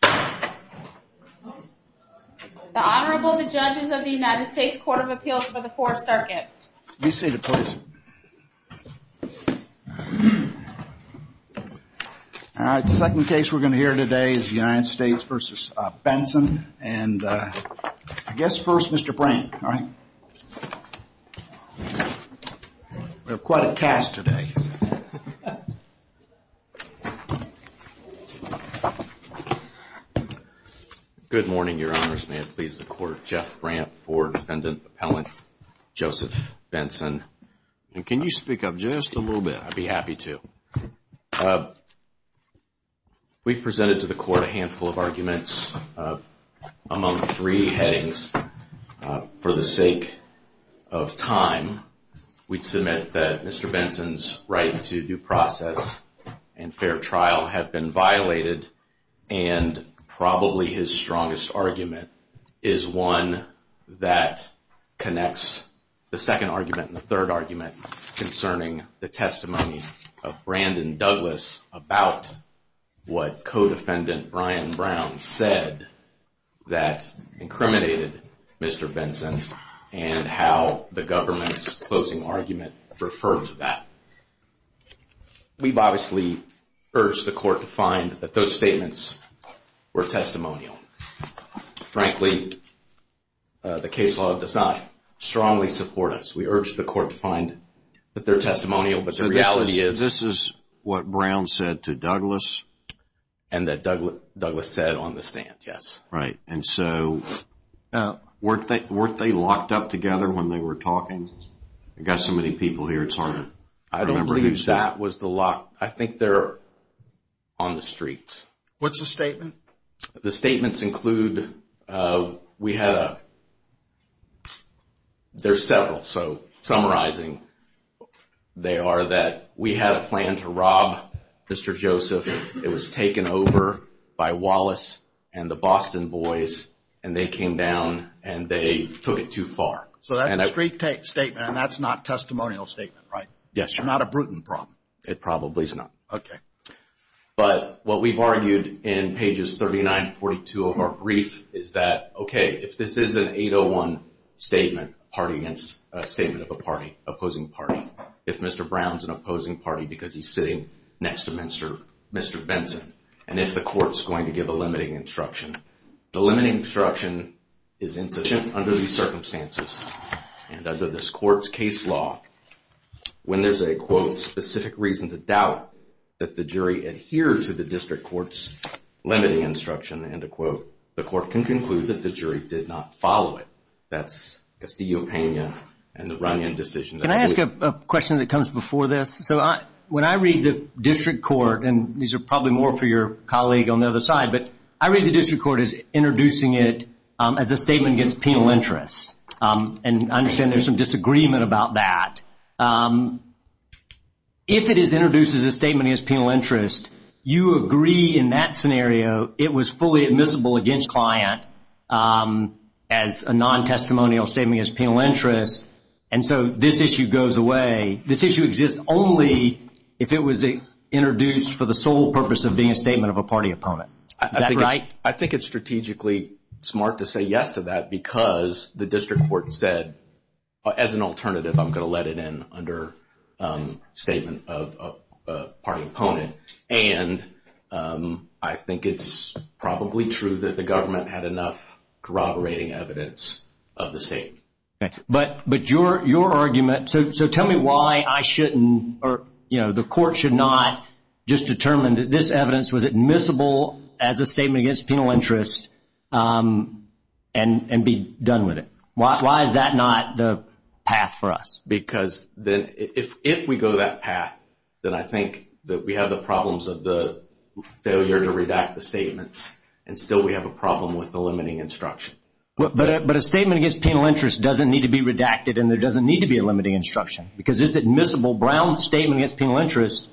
The Honorable, the Judges of the United States Court of Appeals for the Fourth Circuit. Be seated, please. All right, the second case we're going to hear today is the United States v. Benson. And I guess first, Mr. Brandt, all right? We have quite a cast today. Good morning, Your Honors. May it please the Court. Jeff Brandt, Fourth Defendant, Appellant, Joseph Benson. And can you speak up just a little bit? I'd be happy to. We've presented to the Court a handful of arguments among three headings. For the sake of time, we'd submit that Mr. Benson's right to due process and fair trial have been violated. And probably his strongest argument is one that connects the second argument and the third argument concerning the testimony of Brandon Douglas about what co-defendant Brian Brown said that incriminated Mr. Benson and how the government's closing argument referred to that. We've obviously urged the Court to find that those statements were testimonial. Frankly, the case law does not strongly support us. We urge the Court to find that they're testimonial, but the reality is... This is what Brown said to Douglas? And that Douglas said on the stand, yes. Right, and so weren't they locked up together when they were talking? I've got so many people here, it's hard to remember who's who. I don't believe that was the lock. I think they're on the streets. What's the statement? The statements include, we had a... There's several, so summarizing, they are that we had a plan to rob Mr. Joseph. It was taken over by Wallace and the Boston boys, and they came down and they took it too far. So that's a straight statement, and that's not a testimonial statement, right? Yes, sir. Not a Bruton problem? It probably is not. Okay. But what we've argued in pages 39 and 42 of our brief is that, okay, if this is an 801 statement, a statement of a party, opposing party, if Mr. Brown's an opposing party because he's sitting next to Mr. Benson, and if the Court's going to give a limiting instruction, the limiting instruction is insufficient under these circumstances. And under this Court's case law, when there's a, quote, specific reason to doubt that the jury adhered to the District Court's limiting instruction, end of quote, the Court can conclude that the jury did not follow it. That's the opinion and the run-in decision. Can I ask a question that comes before this? So when I read the District Court, and these are probably more for your colleague on the other side, but I read the District Court as introducing it as a statement against penal interest, and I understand there's some disagreement about that. If it is introduced as a statement against penal interest, you agree in that scenario it was fully admissible against client as a non-testimonial statement against penal interest, and so this issue goes away. This issue exists only if it was introduced for the sole purpose of being a statement of a party opponent. Is that right? I think it's strategically smart to say yes to that because the District Court said, as an alternative, I'm going to let it in under statement of party opponent, and I think it's probably true that the government had enough corroborating evidence of the same. But your argument, so tell me why I shouldn't or the court should not just determine that this evidence was admissible as a statement against penal interest and be done with it. Why is that not the path for us? Because if we go that path, then I think that we have the problems of the failure to redact the statements, and still we have a problem with the limiting instruction. But a statement against penal interest doesn't need to be redacted, and there doesn't need to be a limiting instruction because it's admissible. Brown's statement against penal interest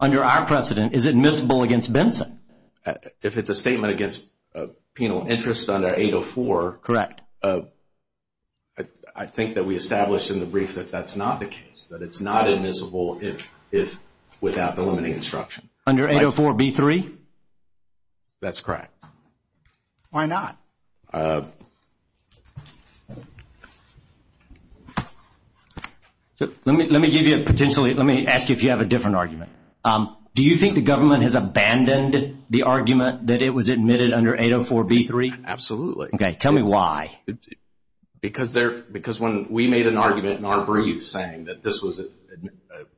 under our precedent is admissible against Benson. If it's a statement against penal interest under 804. Correct. I think that we established in the brief that that's not the case, that it's not admissible if without the limiting instruction. Under 804B3? That's correct. Why not? Let me ask you if you have a different argument. Do you think the government has abandoned the argument that it was admitted under 804B3? Absolutely. Okay, tell me why. Because when we made an argument in our brief saying that this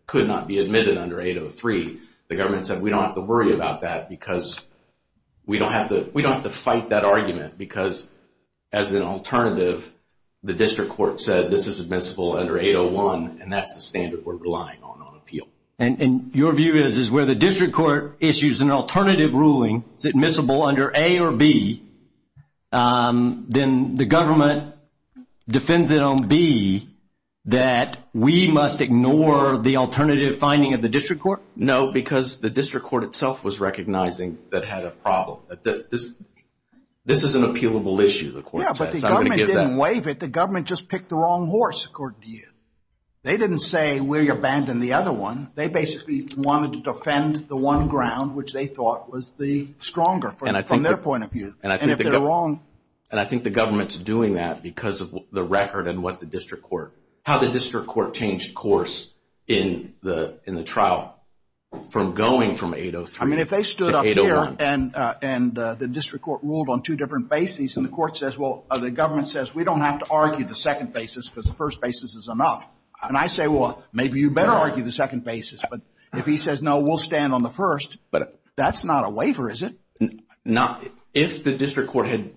could not be admitted under 803, the government said we don't have to worry about that because we don't have to fight that argument because as an alternative, the district court said this is admissible under 801, and that's the standard we're relying on on appeal. And your view is where the district court issues an alternative ruling, is it admissible under A or B, then the government defends it on B, that we must ignore the alternative finding of the district court? No, because the district court itself was recognizing that it had a problem. This is an appealable issue, the court says. Yeah, but the government didn't waive it. The government just picked the wrong horse, according to you. They didn't say we abandoned the other one. They basically wanted to defend the one ground which they thought was the stronger from their point of view. And if they're wrong. And I think the government's doing that because of the record and what the district court, how the district court changed course in the trial from going from 803 to 801. I mean, if they stood up here and the district court ruled on two different bases and the court says, well, the government says we don't have to argue the second basis because the first basis is enough. And I say, well, maybe you better argue the second basis. But if he says, no, we'll stand on the first, that's not a waiver, is it? If the district court had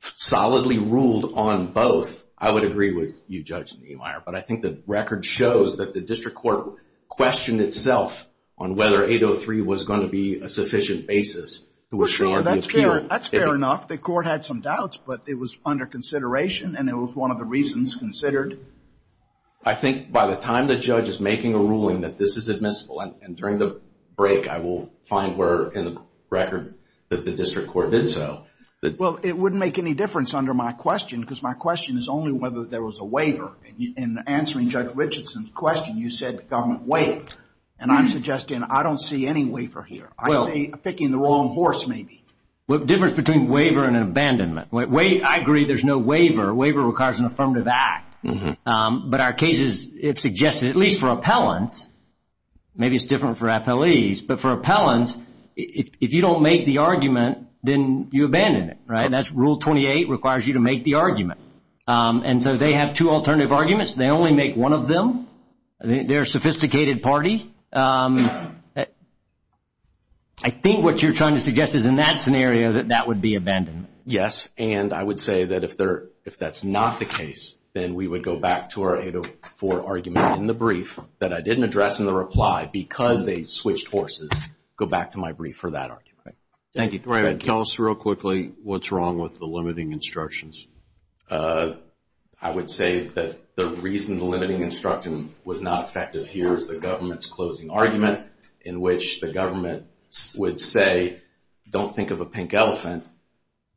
solidly ruled on both, I would agree with you, Judge Niemeyer. But I think the record shows that the district court questioned itself on whether 803 was going to be a sufficient basis to assure the appeal. That's fair enough. The court had some doubts, but it was under consideration and it was one of the reasons considered. I think by the time the judge is making a ruling that this is admissible, and during the break I will find where in the record that the district court did so. Well, it wouldn't make any difference under my question because my question is only whether there was a waiver. In answering Judge Richardson's question, you said the government waived. And I'm suggesting I don't see any waiver here. I'm picking the wrong horse, maybe. Well, the difference between a waiver and an abandonment. I agree there's no waiver. A waiver requires an affirmative act. But our cases have suggested, at least for appellants, maybe it's different for appellees, but for appellants, if you don't make the argument, then you abandon it. Rule 28 requires you to make the argument. And so they have two alternative arguments. They only make one of them. They're a sophisticated party. I think what you're trying to suggest is in that scenario that that would be abandonment. Yes, and I would say that if that's not the case, then we would go back to our 804 argument in the brief that I didn't address in the reply because they switched horses, go back to my brief for that argument. Thank you. Can you tell us real quickly what's wrong with the limiting instructions? I would say that the reason the limiting instruction was not effective here is the government's closing argument in which the government would say, don't think of a pink elephant.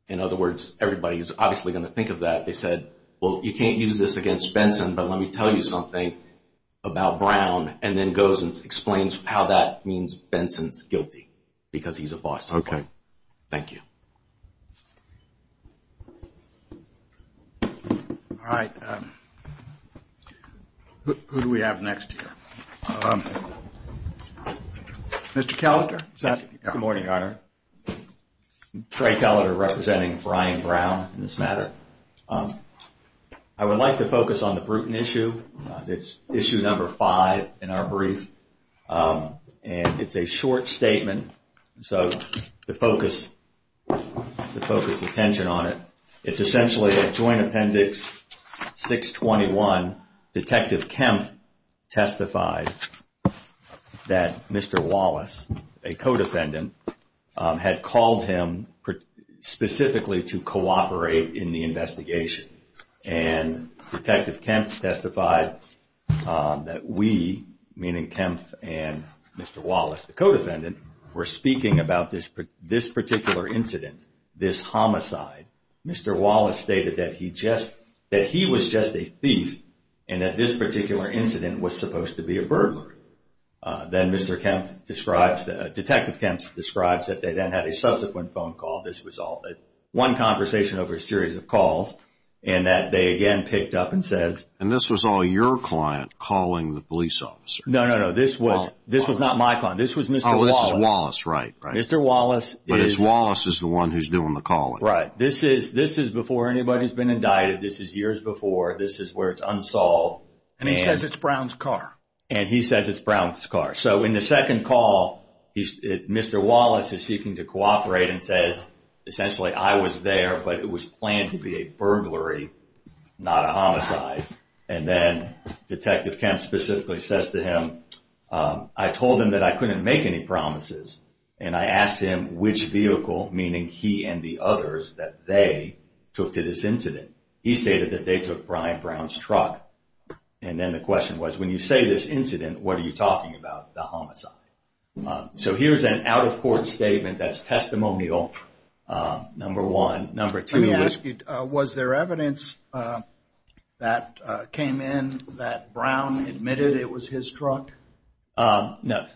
In other words, everybody is obviously going to think of that. They said, well, you can't use this against Benson, but let me tell you something about Brown and then goes and explains how that means Benson's guilty because he's a Boston boy. Okay. Thank you. All right. Who do we have next here? Mr. Kelletter. Good morning, Your Honor. Trey Kelletter representing Brian Brown in this matter. I would like to focus on the Bruton issue. It's issue number five in our brief, and it's a short statement. So to focus the attention on it, it's essentially that Joint Appendix 621, Detective Kempf testified that Mr. Wallace, a co-defendant, had called him specifically to cooperate in the investigation. And Detective Kempf testified that we, meaning Kempf and Mr. Wallace, the co-defendant, were speaking about this particular incident, this homicide. Mr. Wallace stated that he was just a thief and that this particular incident was supposed to be a burglar. Then Mr. Kempf describes, Detective Kempf describes that they then had a subsequent phone call. This was all one conversation over a series of calls, and that they again picked up and says. And this was all your client calling the police officer? No, no, no. This was not my client. This was Mr. Wallace. Oh, this is Wallace, right. Mr. Wallace is. But it's Wallace who's the one who's doing the calling. Right. This is before anybody's been indicted. This is years before. This is where it's unsolved. And he says it's Brown's car. And he says it's Brown's car. So in the second call, Mr. Wallace is seeking to cooperate and says, essentially, I was there, but it was planned to be a burglary, not a homicide. And then Detective Kempf specifically says to him, I told him that I couldn't make any promises, and I asked him which vehicle, meaning he and the others, that they took to this incident. He stated that they took Brian Brown's truck. And then the question was, when you say this incident, what are you talking about? The homicide. So here's an out-of-court statement that's testimonial, number one. Number two was. Let me ask you, was there evidence that came in that Brown admitted it was his truck? No.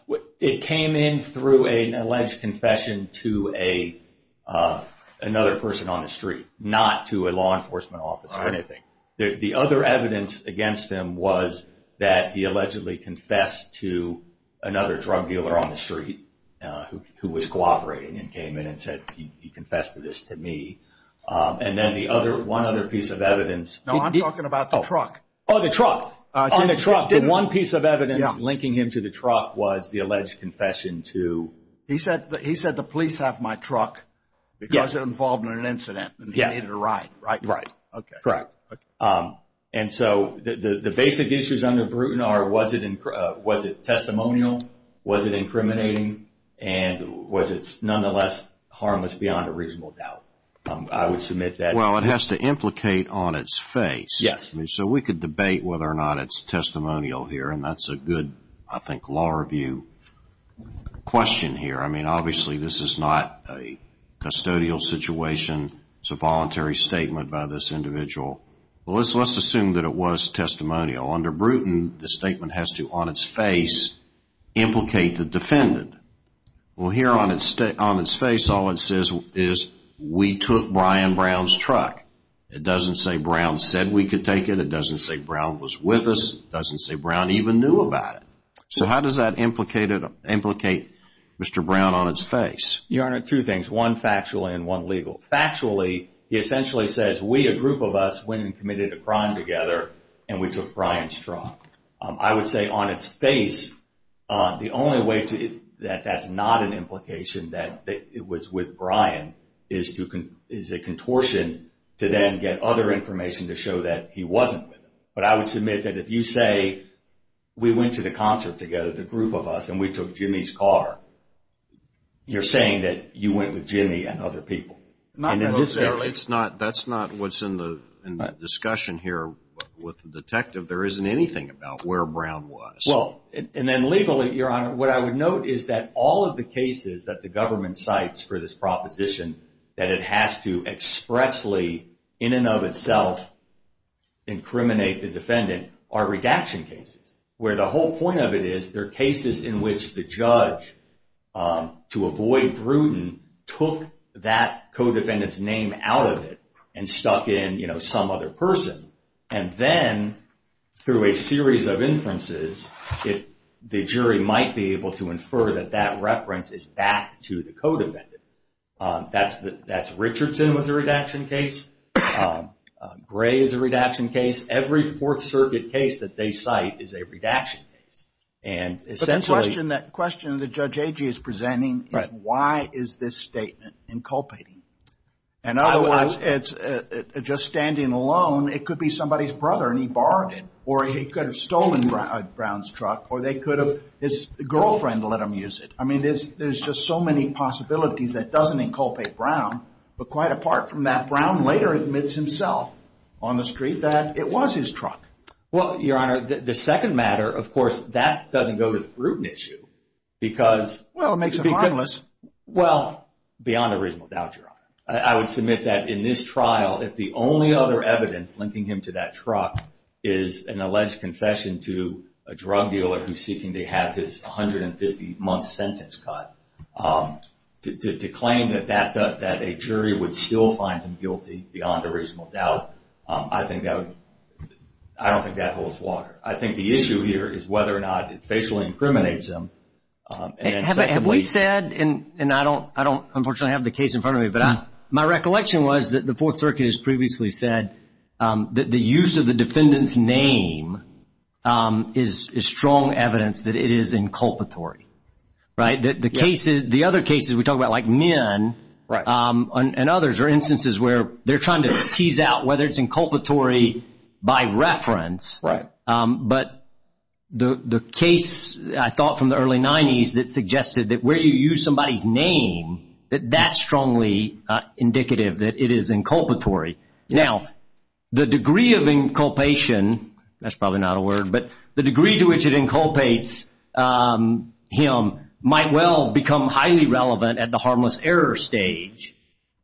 It came in through an alleged confession to another person on the street, not to a law enforcement office or anything. The other evidence against him was that he allegedly confessed to another drug dealer on the street who was cooperating and came in and said he confessed to this to me. And then one other piece of evidence. No, I'm talking about the truck. Oh, the truck. On the truck. The one piece of evidence linking him to the truck was the alleged confession to. He said the police have my truck because it involved an incident and he needed a ride, right? Right. Okay. Correct. And so the basic issues under Bruton are, was it testimonial, was it incriminating, and was it nonetheless harmless beyond a reasonable doubt? I would submit that. Well, it has to implicate on its face. Yes. I mean, so we could debate whether or not it's testimonial here, and that's a good, I think, law review question here. I mean, obviously this is not a custodial situation. It's a voluntary statement by this individual. Well, let's assume that it was testimonial. Under Bruton, the statement has to, on its face, implicate the defendant. Well, here on its face, all it says is, we took Brian Brown's truck. It doesn't say Brown said we could take it. It doesn't say Brown was with us. It doesn't say Brown even knew about it. So how does that implicate Mr. Brown on its face? Your Honor, two things, one factually and one legally. Factually, he essentially says we, a group of us, went and committed a crime together and we took Brian's truck. I would say on its face, the only way that that's not an implication that it was with Brian is a contortion to then get other information to show that he wasn't with him. But I would submit that if you say we went to the concert together, the group of us, and we took Jimmy's car, you're saying that you went with Jimmy and other people. Not necessarily. That's not what's in the discussion here with the detective. There isn't anything about where Brown was. And then legally, Your Honor, what I would note is that all of the cases that the government cites for this proposition that it has to expressly, in and of itself, incriminate the defendant are redaction cases, where the whole point of it is there are cases in which the judge, to avoid brutal, took that co-defendant's name out of it and stuck in some other person. And then through a series of inferences, the jury might be able to infer that that reference is back to the co-defendant. That's Richardson was a redaction case. Gray is a redaction case. Every Fourth Circuit case that they cite is a redaction case. But the question that Judge Agee is presenting is why is this statement inculpating? And otherwise, just standing alone, it could be somebody's brother, and he borrowed it. Or he could have stolen Brown's truck. Or they could have his girlfriend let him use it. I mean, there's just so many possibilities that doesn't inculpate Brown. But quite apart from that, Brown later admits himself on the street that it was his truck. Well, Your Honor, the second matter, of course, that doesn't go to the Bruton issue because— Well, it makes it harmless. Well, beyond a reasonable doubt, Your Honor. I would submit that in this trial, if the only other evidence linking him to that truck is an alleged confession to a drug dealer who's seeking to have his 150-month sentence cut, to claim that a jury would still find him guilty beyond a reasonable doubt, I don't think that holds water. I think the issue here is whether or not it facially incriminates him. Have we said, and I don't unfortunately have the case in front of me, but my recollection was that the Fourth Circuit has previously said that the use of the defendant's name is strong evidence that it is inculpatory. Right? The other cases we talk about, like Min and others, are instances where they're trying to tease out whether it's inculpatory by reference. Right. But the case, I thought, from the early 90s that suggested that where you use somebody's name, that that's strongly indicative that it is inculpatory. Now, the degree of inculpation, that's probably not a word, but the degree to which it inculpates him might well become highly relevant at the harmless error stage.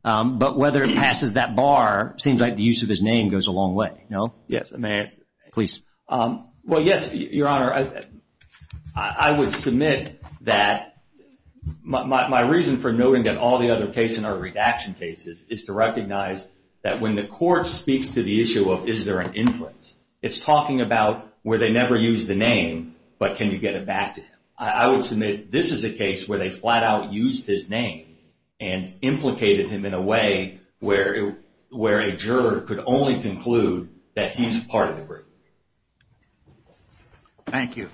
But whether it passes that bar seems like the use of his name goes a long way, no? Yes. Please. Well, yes, Your Honor. I would submit that my reason for noting that all the other cases are redaction cases is to recognize that when the court speaks to the issue of is there an influence, it's talking about where they never used the name, but can you get it back to him. I would submit this is a case where they flat out used his name and implicated him in a way where a juror could only conclude that he's part of the group. Thank you.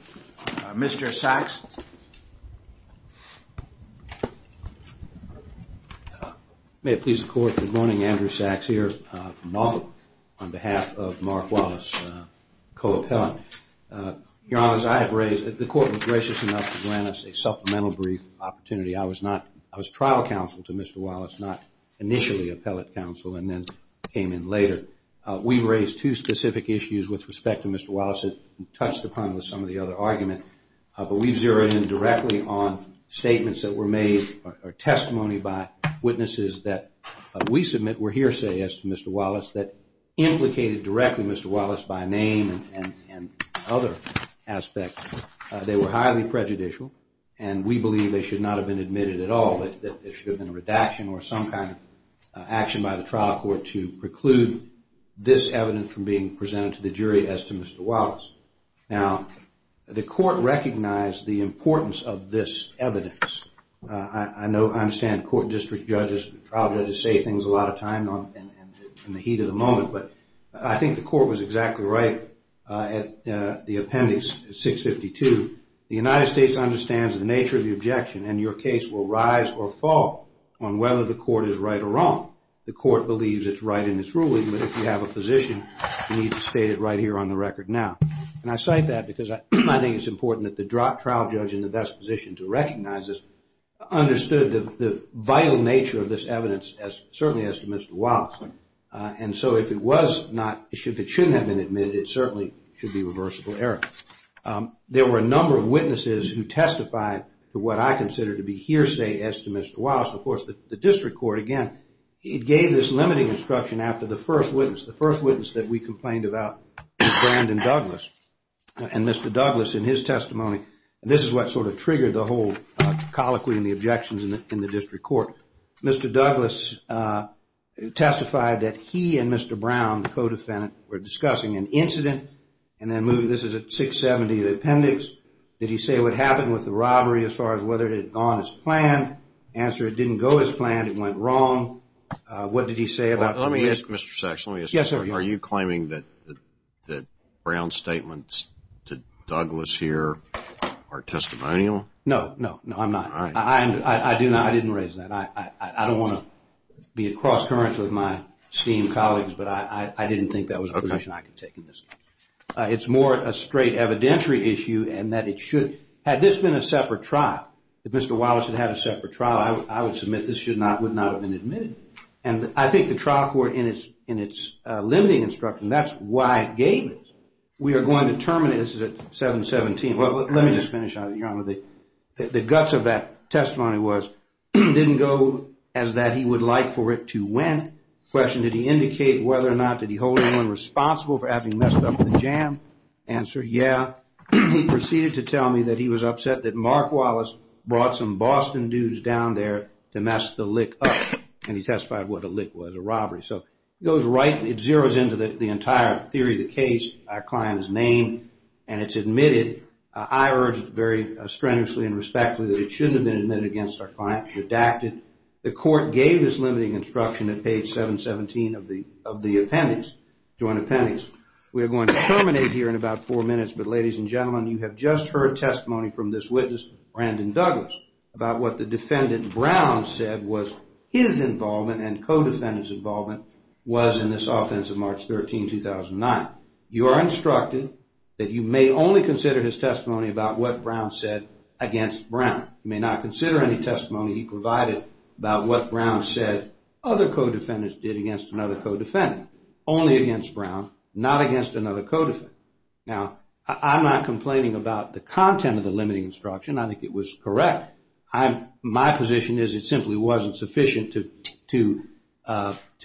Mr. Sachs. May it please the Court, good morning. Andrew Sachs here from Nauvoo on behalf of Mark Wallace, co-appellant. Your Honor, as I have raised, the Court was gracious enough to grant us a supplemental brief opportunity. I was trial counsel to Mr. Wallace, not initially appellate counsel and then came in later. We raised two specific issues with respect to Mr. Wallace that touched upon some of the other arguments, but we zeroed in directly on statements that were made or testimony by witnesses that we submit were hearsay as to Mr. Wallace that implicated directly Mr. Wallace by name and other aspects. They were highly prejudicial and we believe they should not have been admitted at all. It should have been a redaction or some kind of action by the trial court to preclude this evidence from being presented to the jury as to Mr. Wallace. Now, the Court recognized the importance of this evidence. I understand court district judges, trial judges say things a lot of time in the heat of the moment, but I think the Court was exactly right at the appendix 652. The United States understands the nature of the objection and your case will rise or fall on whether the Court is right or wrong. The Court believes it's right in its ruling, but if you have a position, you need to state it right here on the record now. And I cite that because I think it's important that the trial judge in the best position to recognize this understood the vital nature of this evidence as certainly as to Mr. Wallace. And so if it was not, if it shouldn't have been admitted, it certainly should be reversible error. There were a number of witnesses who testified to what I consider to be hearsay as to Mr. Wallace. Of course, the district court, again, it gave this limiting instruction after the first witness, the first witness that we complained about was Brandon Douglas. And Mr. Douglas, in his testimony, this is what sort of triggered the whole colloquy and the objections in the district court. Mr. Douglas testified that he and Mr. Brown, the co-defendant, were discussing an incident and then moved, this is at 670, the appendix. Did he say what happened with the robbery as far as whether it had gone as planned? Answer, it didn't go as planned, it went wrong. What did he say about it? Let me ask, Mr. Sachs, let me ask you. Yes, sir. Are you claiming that Brown's statements to Douglas here are testimonial? No, no, no, I'm not. I do not, I didn't raise that. I don't want to be at cross-currents with my esteemed colleagues, but I didn't think that was a position I could take in this case. It's more a straight evidentiary issue and that it should, had this been a separate trial, if Mr. Wallace had had a separate trial, I would submit this would not have been admitted. And I think the trial court, in its limiting instruction, that's why it gave this. We are going to determine, this is at 717, well, let me just finish on it, Your Honor. The guts of that testimony was, didn't go as that he would like for it to went. Question, did he indicate whether or not, did he hold anyone responsible for having messed up with the jam? Answer, yeah. He proceeded to tell me that he was upset that Mark Wallace brought some Boston dudes down there to mess the lick up. And he testified what a lick was, a robbery. So it goes right, it zeroes into the entire theory of the case, our client's name, and it's admitted. I urge very strenuously and respectfully that it shouldn't have been admitted against our client, redacted. The court gave this limiting instruction at page 717 of the appendix, joint appendix. We are going to terminate here in about four minutes. But ladies and gentlemen, you have just heard testimony from this witness, Brandon Douglas, about what the defendant, Brown, said was his involvement and co-defendant's involvement was in this offense of March 13, 2009. You are instructed that you may only consider his testimony about what Brown said against Brown. You may not consider any testimony he provided about what Brown said other co-defendants did against another co-defendant. Only against Brown, not against another co-defendant. Now, I'm not complaining about the content of the limiting instruction. I think it was correct. My position is it simply wasn't sufficient to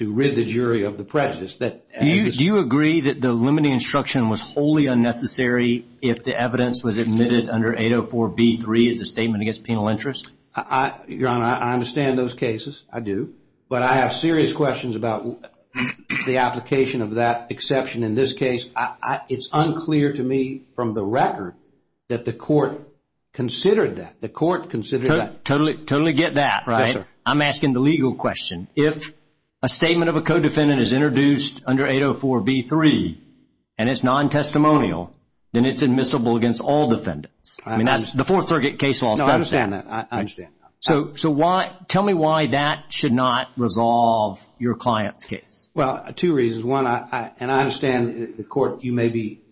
rid the jury of the prejudice. Do you agree that the limiting instruction was wholly unnecessary if the evidence was admitted under 804B3 as a statement against penal interest? Your Honor, I understand those cases. I do. But I have serious questions about the application of that exception in this case. It's unclear to me from the record that the court considered that. The court considered that. Totally get that, right? Yes, sir. I'm asking the legal question. If a statement of a co-defendant is introduced under 804B3 and it's non-testimonial, then it's admissible against all defendants. The Fourth Circuit case law says that. I understand that. Tell me why that should not resolve your client's case. Well, two reasons. One, and I understand the court, you may be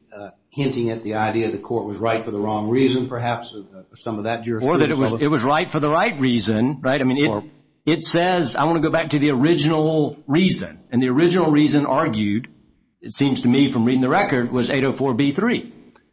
hinting at the idea the court was right for the wrong reason perhaps. Or that it was right for the right reason. It says, I want to go back to the original reason. And the original reason argued, it seems to me from reading the record, was 804B3.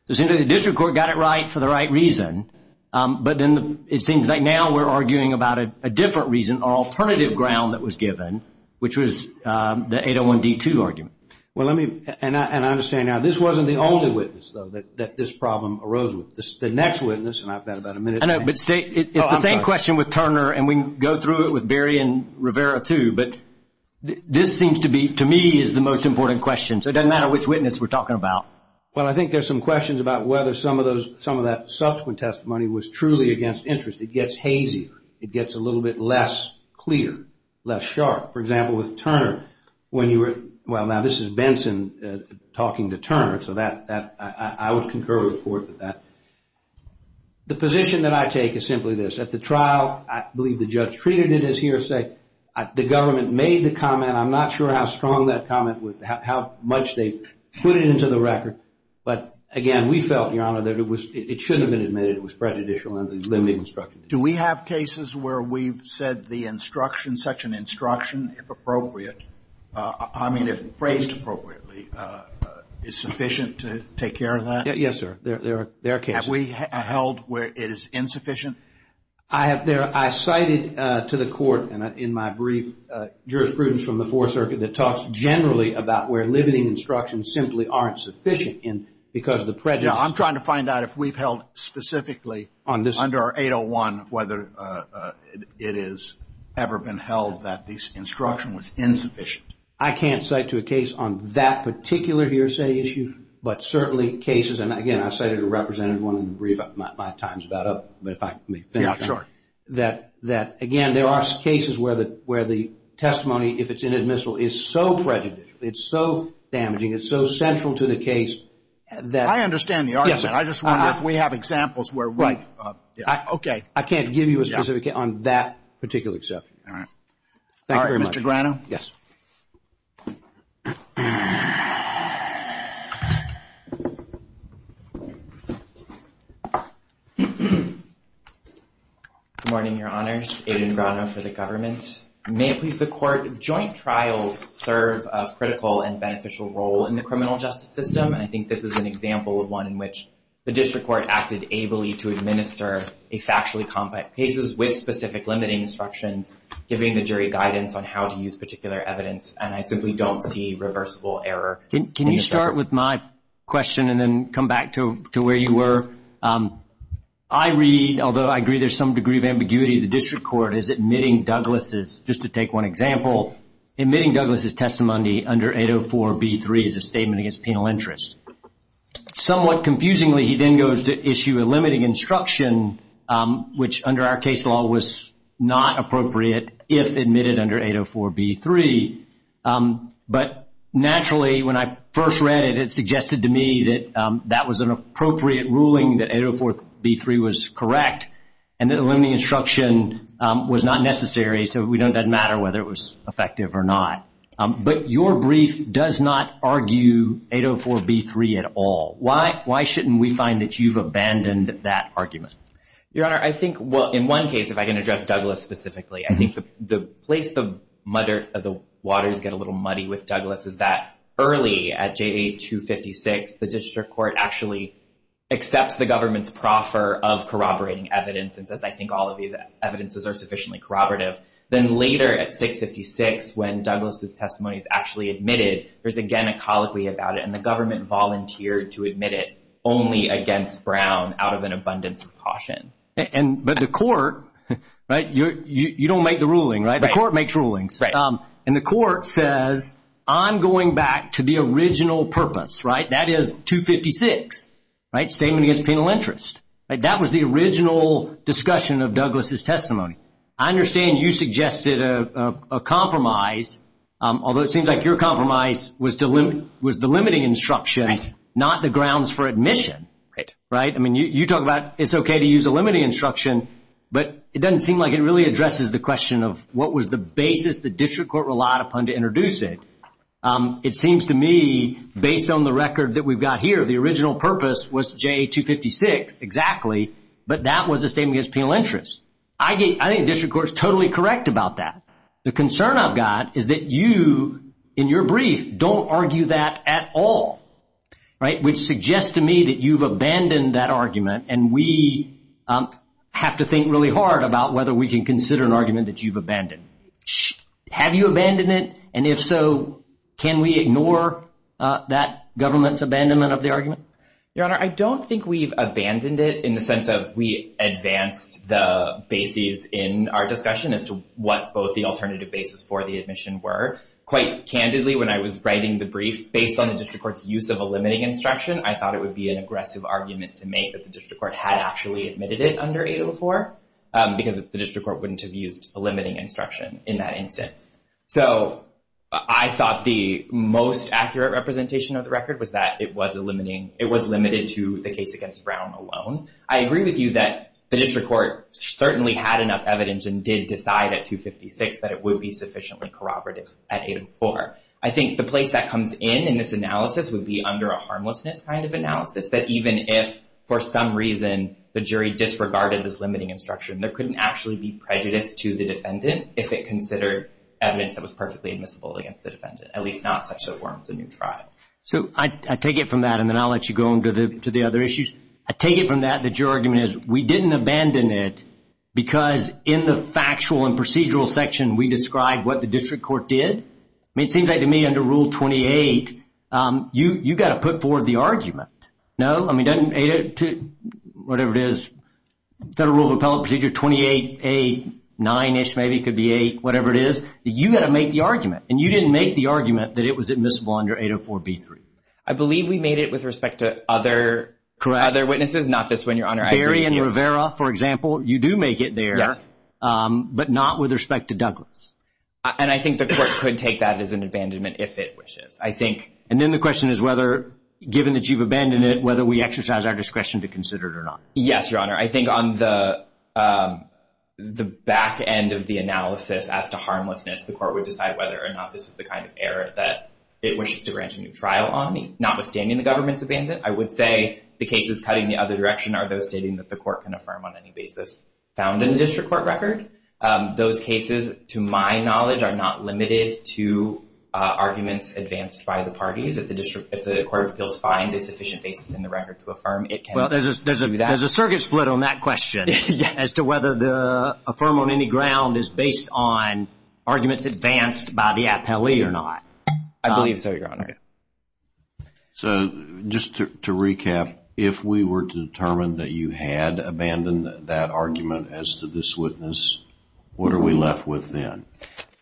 It seems that the district court got it right for the right reason. But then it seems like now we're arguing about a different reason or alternative ground that was given, which was the 801D2 argument. And I understand now, this wasn't the only witness that this problem arose with. The next witness, and I've got about a minute. I know, but it's the same question with Turner and we can go through it with Berry and Rivera too. But this seems to be, to me, is the most important question. So it doesn't matter which witness we're talking about. Well, I think there's some questions about whether some of that subsequent testimony was truly against interest. It gets hazy. It gets a little bit less clear, less sharp. For example, with Turner, when you were, well, now this is Benson talking to Turner. So I would concur with the court with that. The position that I take is simply this. At the trial, I believe the judge treated it as hearsay. The government made the comment. I'm not sure how strong that comment, how much they put it into the record. But, again, we felt, Your Honor, that it shouldn't have been admitted. It was prejudicial and there's limited instruction. Do we have cases where we've said the instruction, such an instruction, if appropriate, I mean if phrased appropriately, is sufficient to take care of that? Yes, sir. There are cases. Have we held where it is insufficient? I have there. I cited to the court in my brief jurisprudence from the Fourth Circuit that talks generally about where limiting instructions simply aren't sufficient because of the prejudice. I'm trying to find out if we've held specifically under our 801 whether it has ever been held that this instruction was insufficient. I can't cite to a case on that particular hearsay issue, but certainly cases, and, again, I cited a represented one in my time's about up, but if I may finish. Yeah, sure. That, again, there are cases where the testimony, if it's inadmissible, is so prejudicial, it's so damaging, it's so central to the case that. I understand the argument. Yes, sir. I just wonder if we have examples where we've. Right. Okay. I can't give you a specific on that particular exception. All right. Thank you very much. Mr. Grano? Yes. Good morning, Your Honors. Aiden Grano for the government. May it please the court, joint trials serve a critical and beneficial role in the criminal justice system, and I think this is an example of one in which the district court acted ably to administer a factually compact case with specific limiting instructions, giving the jury guidance on how to use particular evidence, and I simply don't see reversible error. Can you start with my question and then come back to where you were? I read, although I agree there's some degree of ambiguity, the district court is admitting Douglas', just to take one example, admitting Douglas' testimony under 804B3 is a statement against penal interest. Somewhat confusingly, he then goes to issue a limiting instruction, which under our case law was not appropriate if admitted under 804B3. But naturally, when I first read it, it suggested to me that that was an appropriate ruling, that 804B3 was correct, and that a limiting instruction was not necessary, so it doesn't matter whether it was effective or not. But your brief does not argue 804B3 at all. Why shouldn't we find that you've abandoned that argument? Your Honor, I think in one case, if I can address Douglas specifically, I think the place the waters get a little muddy with Douglas is that early at J8-256, the district court actually accepts the government's proffer of corroborating evidence, and says I think all of these evidences are sufficiently corroborative. Then later at 656, when Douglas' testimony is actually admitted, there's again a colloquy about it, and the government volunteered to admit it only against Brown out of an abundance of caution. But the court, right, you don't make the ruling, right? The court makes rulings. Right. And the court says I'm going back to the original purpose, right? That is 256, right? Statement against penal interest. That was the original discussion of Douglas' testimony. I understand you suggested a compromise, although it seems like your compromise was the limiting instruction, not the grounds for admission. Right. Right? I mean, you talk about it's okay to use a limiting instruction, but it doesn't seem like it really addresses the question of what was the basis the district court relied upon to introduce it. It seems to me, based on the record that we've got here, the original purpose was J8-256, exactly, but that was a statement against penal interest. I think the district court is totally correct about that. The concern I've got is that you, in your brief, don't argue that at all, right, which suggests to me that you've abandoned that argument, and we have to think really hard about whether we can consider an argument that you've abandoned. Have you abandoned it? And if so, can we ignore that government's abandonment of the argument? Your Honor, I don't think we've abandoned it in the sense of we advanced the bases in our discussion as to what both the alternative bases for the admission were. Quite candidly, when I was writing the brief, based on the district court's use of a limiting instruction, I thought it would be an aggressive argument to make that the district court had actually admitted it under 804 because the district court wouldn't have used a limiting instruction in that instance. So I thought the most accurate representation of the record was that it was limited to the case against Brown alone. I agree with you that the district court certainly had enough evidence and did decide at 256 that it would be sufficiently corroborative at 804. I think the place that comes in in this analysis would be under a harmlessness kind of analysis, that even if, for some reason, the jury disregarded this limiting instruction, there couldn't actually be prejudice to the defendant if it considered evidence that was perfectly admissible against the defendant, at least not such that it forms a new trial. So I take it from that, and then I'll let you go on to the other issues. I take it from that that your argument is we didn't abandon it because in the factual and procedural section, we described what the district court did. I mean, it seems like to me under Rule 28, you've got to put forward the argument, no? I mean, doesn't 802, whatever it is, Federal Rule of Appellate Procedure 28A9-ish, maybe it could be 8, whatever it is. You've got to make the argument, and you didn't make the argument that it was admissible under 804B3. I believe we made it with respect to other witnesses, not this one, Your Honor. Barry and Rivera, for example, you do make it there, but not with respect to Douglas. And I think the court could take that as an abandonment if it wishes, I think. And then the question is whether, given that you've abandoned it, whether we exercise our discretion to consider it or not. Yes, Your Honor. I think on the back end of the analysis as to harmlessness, the court would decide whether or not this is the kind of error that it wishes to grant a new trial on, notwithstanding the government's abandonment. I would say the cases cutting the other direction are those stating that the court can affirm on any basis found in the district court record. Those cases, to my knowledge, are not limited to arguments advanced by the parties. If the court feels finds a sufficient basis in the record to affirm, it can do that. Well, there's a circuit split on that question as to whether the affirm on any ground is based on arguments advanced by the appellee or not. I believe so, Your Honor. So just to recap, if we were to determine that you had abandoned that argument as to this witness, what are we left with then?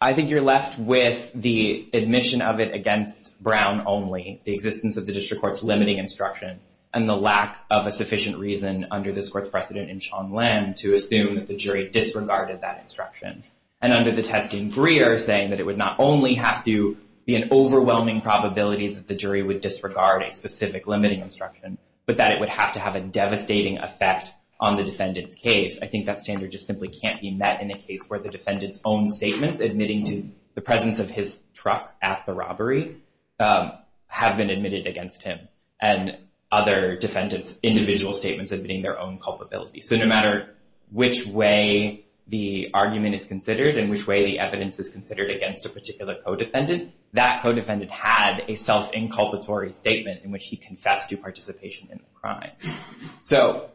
I think you're left with the admission of it against Brown only, the existence of the district court's limiting instruction, and the lack of a sufficient reason under this court's precedent in Shonlem to assume that the jury disregarded that instruction. And under the test in Greer, saying that it would not only have to be an overwhelming probability that the jury would disregard a specific limiting instruction, but that it would have to have a devastating effect on the defendant's case. I think that standard just simply can't be met in a case where the defendant's own statements admitting to the presence of his truck at the robbery have been admitted against him, and other defendants' individual statements admitting their own culpability. So no matter which way the argument is considered and which way the evidence is considered against a particular co-defendant, that co-defendant had a self-inculpatory statement in which he confessed to participation in the crime.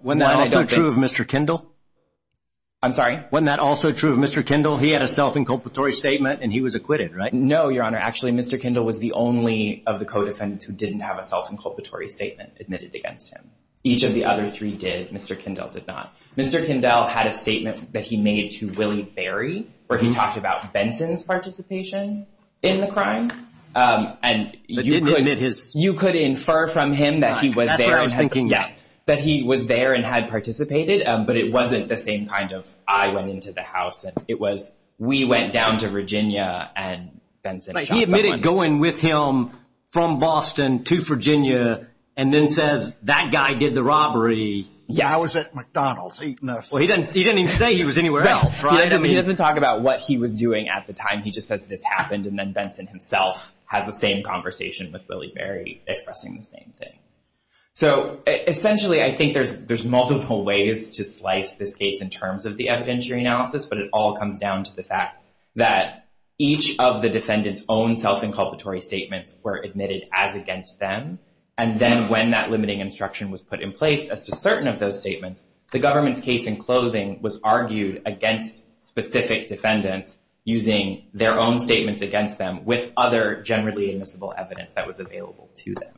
Wasn't that also true of Mr. Kindle? I'm sorry? Wasn't that also true of Mr. Kindle? He had a self-inculpatory statement, and he was acquitted, right? No, Your Honor. Actually, Mr. Kindle was the only of the co-defendants who didn't have a self-inculpatory statement admitted against him. Each of the other three did. Mr. Kindle did not. Mr. Kindle had a statement that he made to Willie Berry where he talked about Benson's participation in the crime. You could infer from him that he was there and had participated, but it wasn't the same kind of, I went into the house. It was, we went down to Virginia and Benson shot someone. He admitted going with him from Boston to Virginia and then says, that guy did the robbery. I was at McDonald's. He didn't even say he was anywhere else, right? He doesn't talk about what he was doing at the time. He just says this happened, and then Benson himself has the same conversation with Willie Berry expressing the same thing. So, essentially, I think there's multiple ways to slice this case in terms of the evidentiary analysis, but it all comes down to the fact that each of the defendants' own self-inculpatory statements were admitted as against them, and then when that limiting instruction was put in place as to certain of those statements, the government's case in clothing was argued against specific defendants using their own statements against them with other generally admissible evidence that was available to them.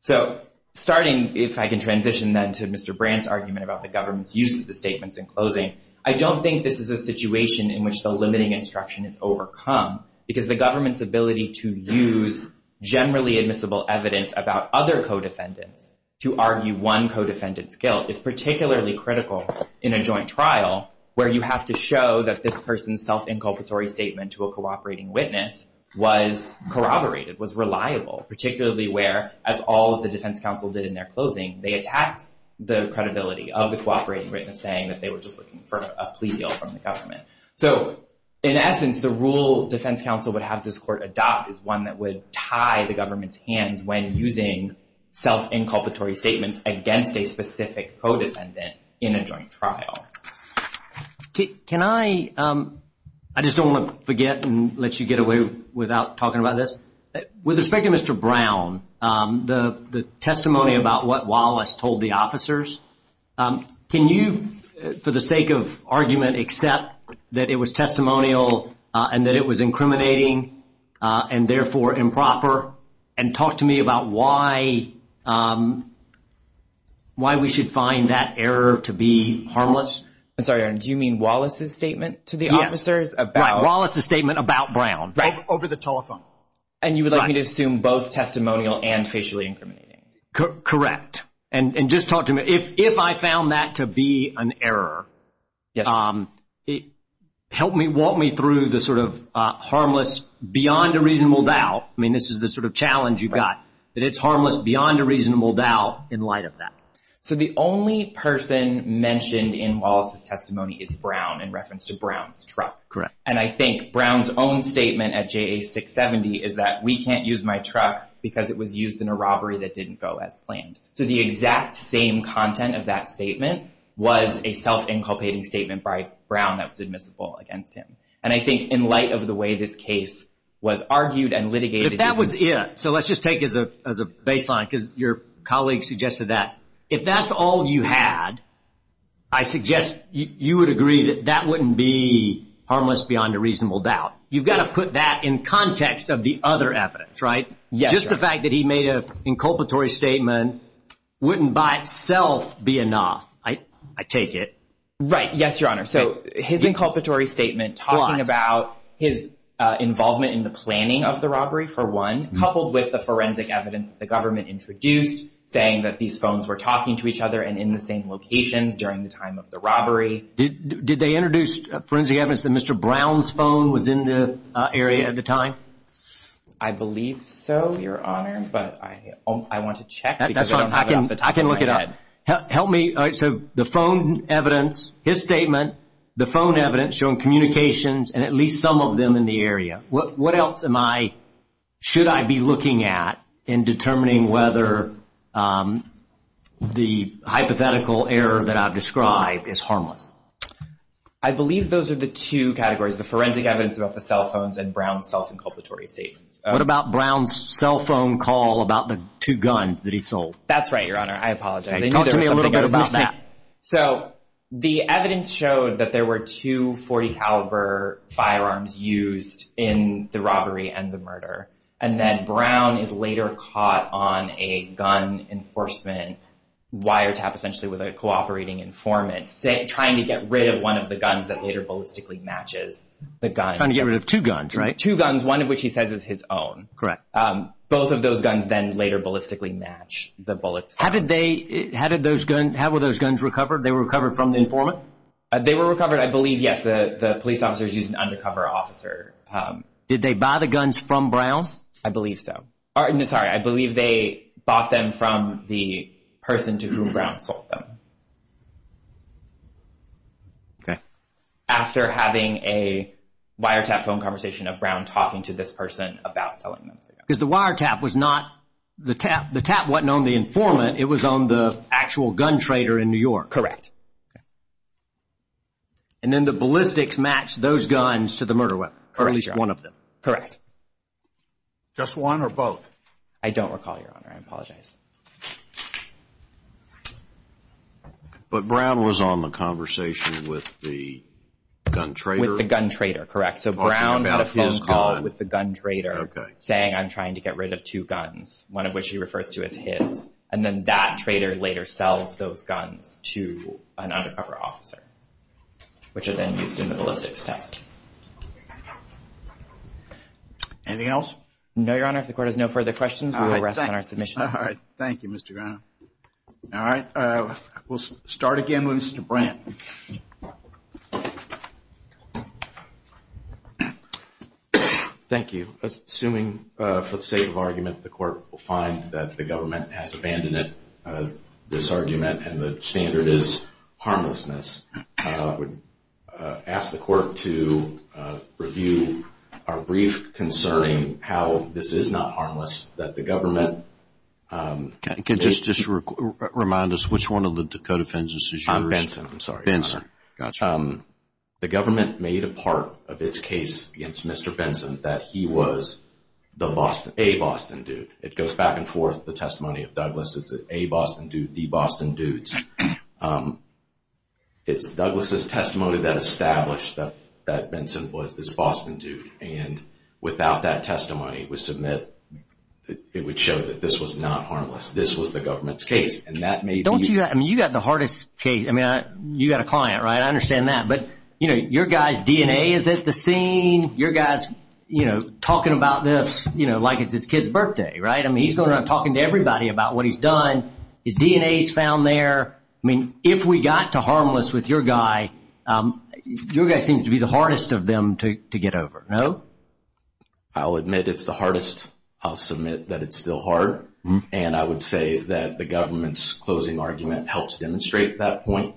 So, starting, if I can transition then to Mr. Brandt's argument about the government's use of the statements in closing, I don't think this is a situation in which the limiting instruction is overcome, because the government's ability to use generally admissible evidence about other co-defendants to argue one co-defendant's guilt is particularly critical in a joint trial where you have to show that this person's self-inculpatory statement to a cooperating witness was corroborated, was reliable, particularly where, as all of the defense counsel did in their closing, they attacked the credibility of the cooperating witness saying that they were just looking for a plea deal from the government. So, in essence, the rule defense counsel would have this court adopt is one that would tie the government's hands when using self-inculpatory statements against a specific co-defendant in a joint trial. Can I, I just don't want to forget and let you get away without talking about this. With respect to Mr. Brown, the testimony about what Wallace told the officers, can you, for the sake of argument, accept that it was testimonial and that it was incriminating and therefore improper and talk to me about why we should find that error to be harmless? I'm sorry, Aaron, do you mean Wallace's statement to the officers? Yes, right, Wallace's statement about Brown. Right. Over the telephone. And you would like me to assume both testimonial and facially incriminating. Correct. And just talk to me. If I found that to be an error, help me, help me through the sort of harmless beyond a reasonable doubt. I mean, this is the sort of challenge you've got. That it's harmless beyond a reasonable doubt in light of that. So, the only person mentioned in Wallace's testimony is Brown in reference to Brown's truck. Correct. And I think Brown's own statement at JA 670 is that we can't use my truck because it was used in a robbery that didn't go as planned. So, the exact same content of that statement was a self-inculpating statement by Brown that was admissible against him. And I think in light of the way this case was argued and litigated. So, let's just take it as a baseline because your colleague suggested that. If that's all you had, I suggest you would agree that that wouldn't be harmless beyond a reasonable doubt. You've got to put that in context of the other evidence, right? Yes. Just the fact that he made an inculpatory statement wouldn't by itself be enough. I take it. Right. Yes, Your Honor. So, his inculpatory statement talking about his involvement in the planning of the robbery, for one, coupled with the forensic evidence that the government introduced saying that these phones were talking to each other and in the same locations during the time of the robbery. Did they introduce forensic evidence that Mr. Brown's phone was in the area at the time? I believe so, Your Honor, but I want to check because I don't have it off the top of my head. That's fine. I can look it up. Help me. So, the phone evidence, his statement, the phone evidence showing communications and at least some of them in the area. What else should I be looking at in determining whether the hypothetical error that I've described is harmless? I believe those are the two categories, the forensic evidence about the cell phones and Brown's self-inculpatory statements. What about Brown's cell phone call about the two guns that he sold? That's right, Your Honor. I apologize. Talk to me a little bit about that. So, the evidence showed that there were two .40 caliber firearms used in the robbery and the murder, and that Brown is later caught on a gun enforcement wiretap essentially with a cooperating informant trying to get rid of one of the guns that later ballistically matches the gun. Trying to get rid of two guns, right? Two guns, one of which he says is his own. Correct. Both of those guns then later ballistically match the bullets. How were those guns recovered? They were recovered from the informant? They were recovered, I believe, yes. The police officers used an undercover officer. Did they buy the guns from Brown? I believe so. No, sorry. I believe they bought them from the person to whom Brown sold them. Okay. After having a wiretap phone conversation of Brown talking to this person about selling them. Because the wiretap was not the tap. The tap wasn't on the informant. It was on the actual gun trader in New York. Correct. And then the ballistics matched those guns to the murder weapon, or at least one of them. Correct. Just one or both? I don't recall, Your Honor. I apologize. But Brown was on the conversation with the gun trader? With the gun trader, correct. So Brown had a phone call with the gun trader saying, I'm trying to get rid of two guns, one of which he refers to as his. And then that trader later sells those guns to an undercover officer, which are then used in the ballistics test. Anything else? No, Your Honor. If the Court has no further questions, we will rest on our submissions. All right. Thank you, Mr. Brown. All right. We'll start again with Mr. Brandt. Thank you. Assuming for the sake of argument, the Court will find that the government has abandoned this argument and the standard is harmlessness, I would ask the Court to review our brief concerning how this is not harmless, that the government… Can you just remind us which one of the co-defendants is yours? Benson, I'm sorry. Benson, gotcha. The government made a part of its case against Mr. Benson that he was a Boston dude. It goes back and forth, the testimony of Douglas. It's a Boston dude, the Boston dudes. It's Douglas's testimony that established that Benson was this Boston dude. And without that testimony, it would show that this was not harmless. This was the government's case. And that may be… Don't you… I mean, you got the hardest case. I mean, you got a client, right? I understand that. But, you know, your guy's DNA is at the scene. Your guy's, you know, talking about this, you know, like it's his kid's birthday, right? I mean, he's going around talking to everybody about what he's done. His DNA is found there. I mean, if we got to harmless with your guy, your guy seems to be the hardest of them to get over, no? I'll admit it's the hardest. I'll submit that it's still hard. And I would say that the government's closing argument helps demonstrate that point.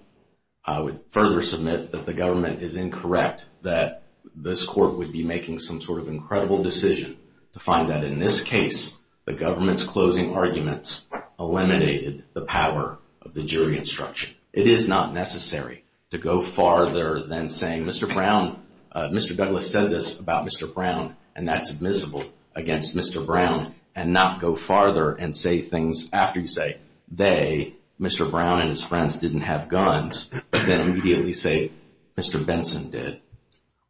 I would further submit that the government is incorrect, that this court would be making some sort of incredible decision to find that in this case the government's closing arguments eliminated the power of the jury instruction. It is not necessary to go farther than saying, Mr. Brown, Mr. Douglas said this about Mr. Brown, and that's admissible against Mr. Brown, and not go farther and say things after you say, they, Mr. Brown and his friends, didn't have guns, but then immediately say Mr. Benson did.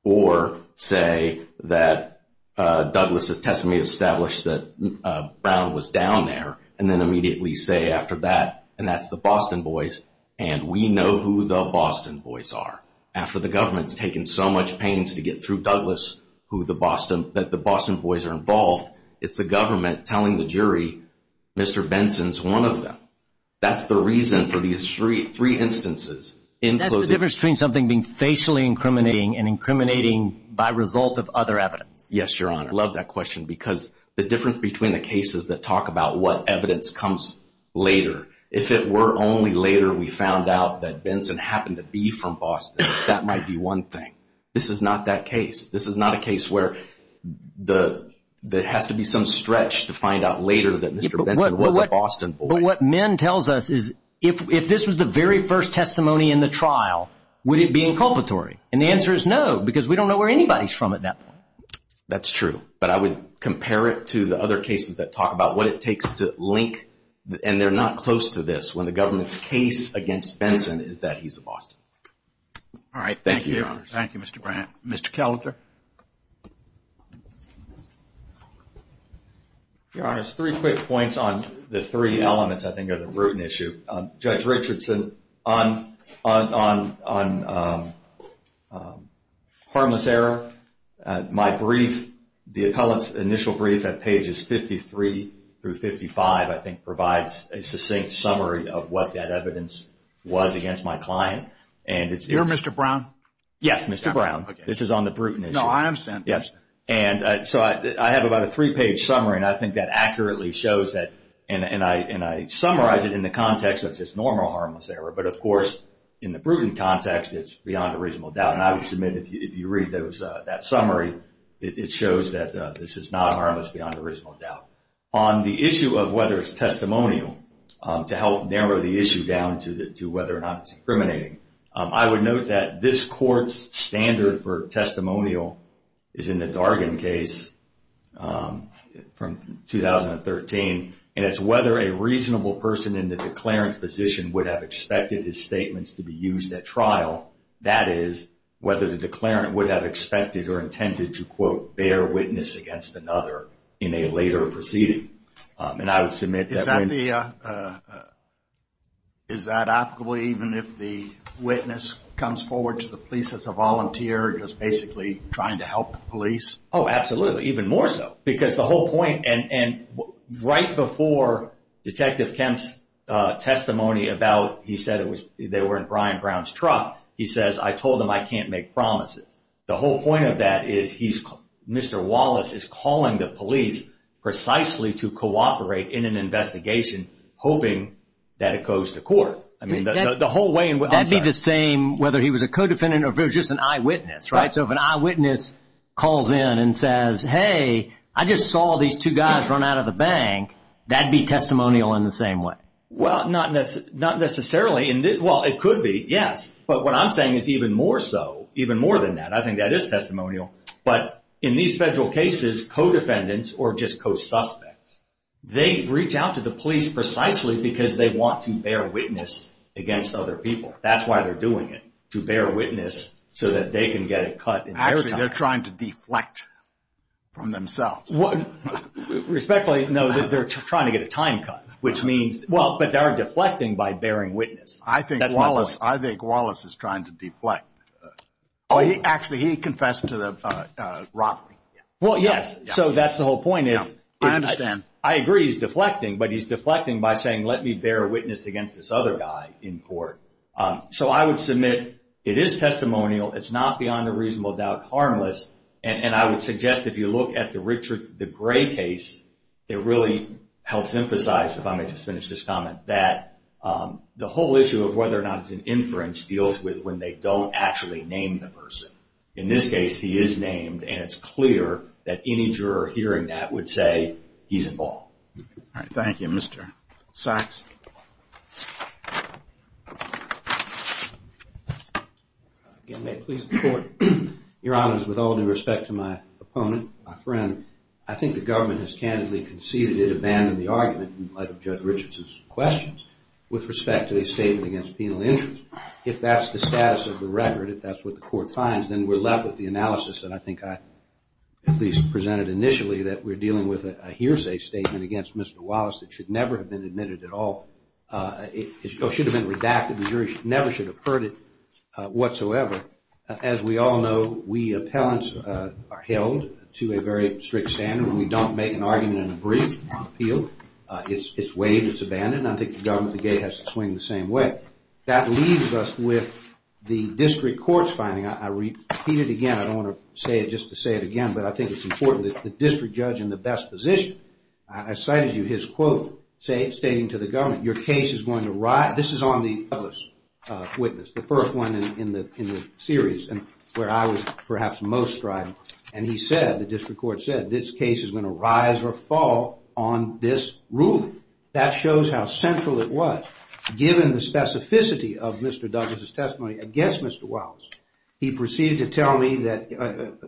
Or say that Douglas's testimony established that Brown was down there, and then immediately say after that, and that's the Boston boys, and we know who the Boston boys are. After the government's taken so much pains to get through Douglas, that the Boston boys are involved, it's the government telling the jury, Mr. Benson's one of them. That's the reason for these three instances. That's the difference between something being facially incriminating and incriminating by result of other evidence. Yes, Your Honor. I love that question because the difference between the cases that talk about what evidence comes later, if it were only later we found out that Benson happened to be from Boston, that might be one thing. This is not that case. This is not a case where there has to be some stretch to find out later that Mr. Benson was a Boston boy. But what Min tells us is if this was the very first testimony in the trial, would it be inculpatory? And the answer is no, because we don't know where anybody's from at that point. That's true, but I would compare it to the other cases that talk about what it takes to link, and they're not close to this, when the government's case against Benson is that he's a Boston boy. All right. Thank you, Your Honor. Thank you, Mr. Brown. Mr. Kelter? Your Honor, just three quick points on the three elements I think are the root issue. Judge Richardson, on harmless error, my brief, the appellate's initial brief at pages 53 through 55, I think, provides a succinct summary of what that evidence was against my client. You're Mr. Brown? Yes, Mr. Brown. This is on the Bruton issue. No, I understand. Yes. And so I have about a three-page summary, and I think that accurately shows that, and I summarize it in the context that it's normal harmless error. But, of course, in the Bruton context, it's beyond a reasonable doubt. And I would submit if you read that summary, it shows that this is not harmless beyond a reasonable doubt. On the issue of whether it's testimonial, to help narrow the issue down to whether or not it's incriminating, I would note that this court's standard for testimonial is in the Dargan case from 2013, and it's whether a reasonable person in the declarant's position would have expected his statements to be used at trial. That is, whether the declarant would have expected or intended to, quote, bear witness against another in a later proceeding. And I would submit that when... Is that the... Is that applicable even if the witness comes forward to the police as a volunteer, just basically trying to help the police? Oh, absolutely. Even more so. Because the whole point, and right before Detective Kemp's testimony about, he said they were in Brian Brown's truck, he says, I told them I can't make promises. The whole point of that is he's... Mr. Wallace is calling the police precisely to cooperate in an investigation, hoping that it goes to court. I mean, the whole way... That'd be the same whether he was a co-defendant or if it was just an eyewitness, right? So if an eyewitness calls in and says, Hey, I just saw these two guys run out of the bank, that'd be testimonial in the same way. Well, not necessarily. Well, it could be, yes. But what I'm saying is even more so, even more than that. I think that is testimonial. But in these federal cases, co-defendants or just co-suspects, they reach out to the police precisely because they want to bear witness against other people. That's why they're doing it, to bear witness so that they can get it cut in their time. Actually, they're trying to deflect from themselves. Respectfully, no, they're trying to get a time cut, which means... Well, but they're deflecting by bearing witness. I think Wallace is trying to deflect. Actually, he confessed to the robbery. Well, yes. So that's the whole point is... I understand. I agree he's deflecting, but he's deflecting by saying, Let me bear witness against this other guy in court. So I would submit it is testimonial. It's not beyond a reasonable doubt harmless. And I would suggest if you look at the Gray case, it really helps emphasize, if I may just finish this comment, that the whole issue of whether or not it's an inference deals with when they don't actually name the person. In this case, he is named, and it's clear that any juror hearing that would say he's involved. All right. Thank you. Mr. Sachs. Again, may it please the Court. Your Honors, with all due respect to my opponent, my friend, I think the government has candidly conceded it abandoned the argument in light of Judge Richardson's questions with respect to the statement against penal interest. If that's the status of the record, if that's what the Court finds, then we're left with the analysis that I think I at least presented initially that we're dealing with a hearsay statement against Mr. Wallace that should never have been admitted at all. It should have been redacted. The jury never should have heard it whatsoever. However, as we all know, we appellants are held to a very strict standard when we don't make an argument in a brief appeal. It's waived. It's abandoned. I think the government at the gate has to swing the same way. That leaves us with the district court's finding. I repeat it again. I don't want to say it just to say it again, but I think it's important. The district judge in the best position. I cited you his quote stating to the government, your case is going to rise. This is on the Douglas witness, the first one in the series where I was perhaps most strident. And he said, the district court said, this case is going to rise or fall on this ruling. That shows how central it was. Given the specificity of Mr. Douglas' testimony against Mr. Wallace, he proceeded to tell me that, in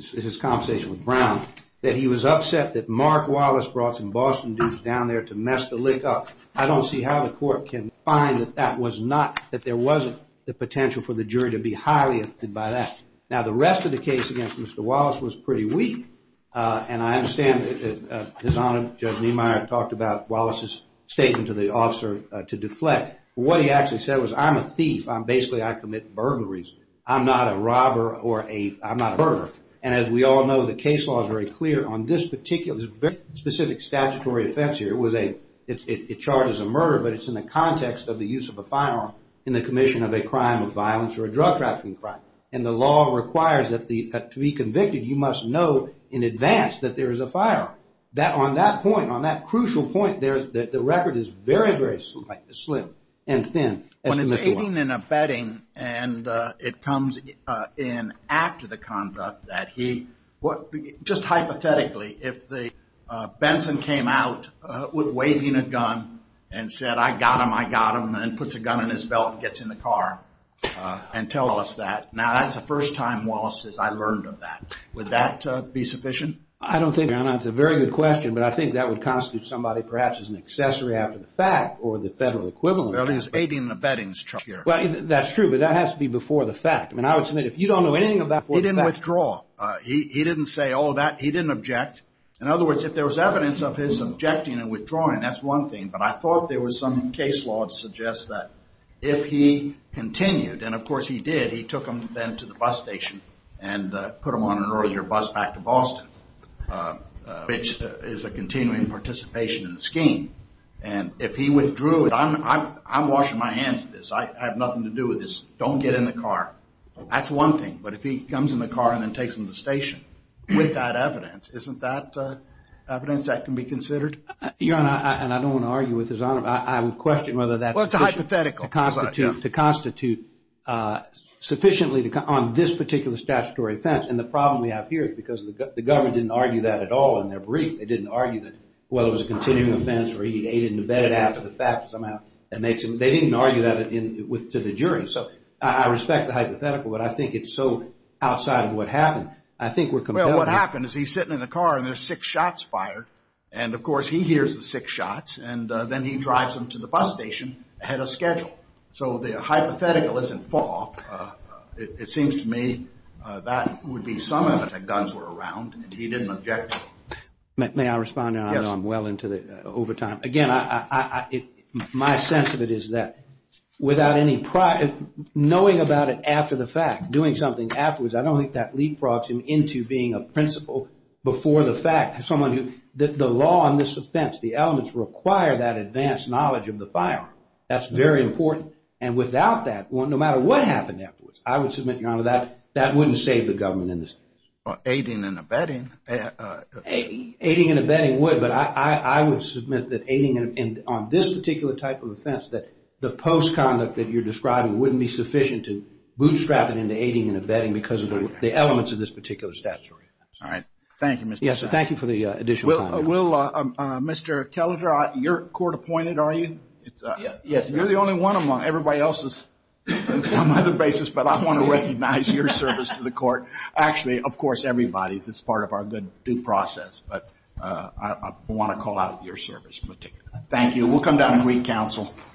his conversation with Brown, that he was upset that Mark Wallace brought some Boston dudes down there to mess the lick up. I don't see how the court can find that that was not, that there wasn't the potential for the jury to be highly offended by that. Now, the rest of the case against Mr. Wallace was pretty weak. And I understand that his Honor, Judge Niemeyer, talked about Wallace's statement to the officer to deflect. What he actually said was, I'm a thief. Basically, I commit burglaries. I'm not a robber or a, I'm not a burglar. And as we all know, the case law is very clear on this particular, there's a very specific statutory offense here. It was a, it charges a murder, but it's in the context of the use of a firearm in the commission of a crime of violence or a drug trafficking crime. And the law requires that the, to be convicted, you must know in advance that there is a firearm. That, on that point, on that crucial point, the record is very, very slim and thin. When it's aiding and abetting and it comes in after the conduct that he, I mean, just hypothetically, if Benson came out waving a gun and said, I got him, I got him, and then puts a gun in his belt and gets in the car and tells us that. Now, that's the first time Wallace says, I learned of that. Would that be sufficient? I don't think that's a very good question, but I think that would constitute somebody perhaps as an accessory after the fact or the federal equivalent. Well, he's aiding and abetting here. That's true, but that has to be before the fact. I mean, I would submit if you don't know anything before the fact. Withdraw. He didn't say, oh, that, he didn't object. In other words, if there was evidence of his objecting and withdrawing, that's one thing, but I thought there was some case law that suggests that if he continued, and of course he did, he took him then to the bus station and put him on an earlier bus back to Boston, which is a continuing participation in the scheme. And if he withdrew, I'm washing my hands of this. I have nothing to do with this. Don't get in the car. That's one thing. But if he comes in the car and then takes him to the station with that evidence, isn't that evidence that can be considered? Your Honor, and I don't want to argue with His Honor, but I would question whether that's sufficient. Well, it's hypothetical. To constitute sufficiently on this particular statutory offense. And the problem we have here is because the government didn't argue that at all in their brief. They didn't argue that, well, it was a continuing offense where he aided and abetted after the fact somehow. They didn't argue that to the jury. I respect the hypothetical, but I think it's so outside of what happened. I think we're compelling. Well, what happened is he's sitting in the car and there's six shots fired. And, of course, he hears the six shots. And then he drives them to the bus station ahead of schedule. So the hypothetical isn't false. It seems to me that would be some evidence that guns were around and he didn't object to it. May I respond now? Yes. I know I'm well into the overtime. Again, my sense of it is that without any prior, knowing about it after the fact, doing something afterwards, I don't think that leapfrogs him into being a principal before the fact. Someone who, the law on this offense, the elements require that advanced knowledge of the firearm. That's very important. And without that, no matter what happened afterwards, I would submit, Your Honor, that that wouldn't save the government in this case. Aiding and abetting. Aiding and abetting would. But I would submit that aiding and abetting on this particular type of offense, that the post-conduct that you're describing wouldn't be sufficient to bootstrap it into aiding and abetting because of the elements of this particular statutory offense. All right. Thank you, Mr. Stein. Yes, and thank you for the additional time. Mr. Kelletter, you're court-appointed, are you? Yes. You're the only one among everybody else's on some other basis, but I want to recognize your service to the court. Actually, of course, everybody's. It's part of our good due process. But I want to call out your service in particular. Thank you. We'll come down and greet counsel.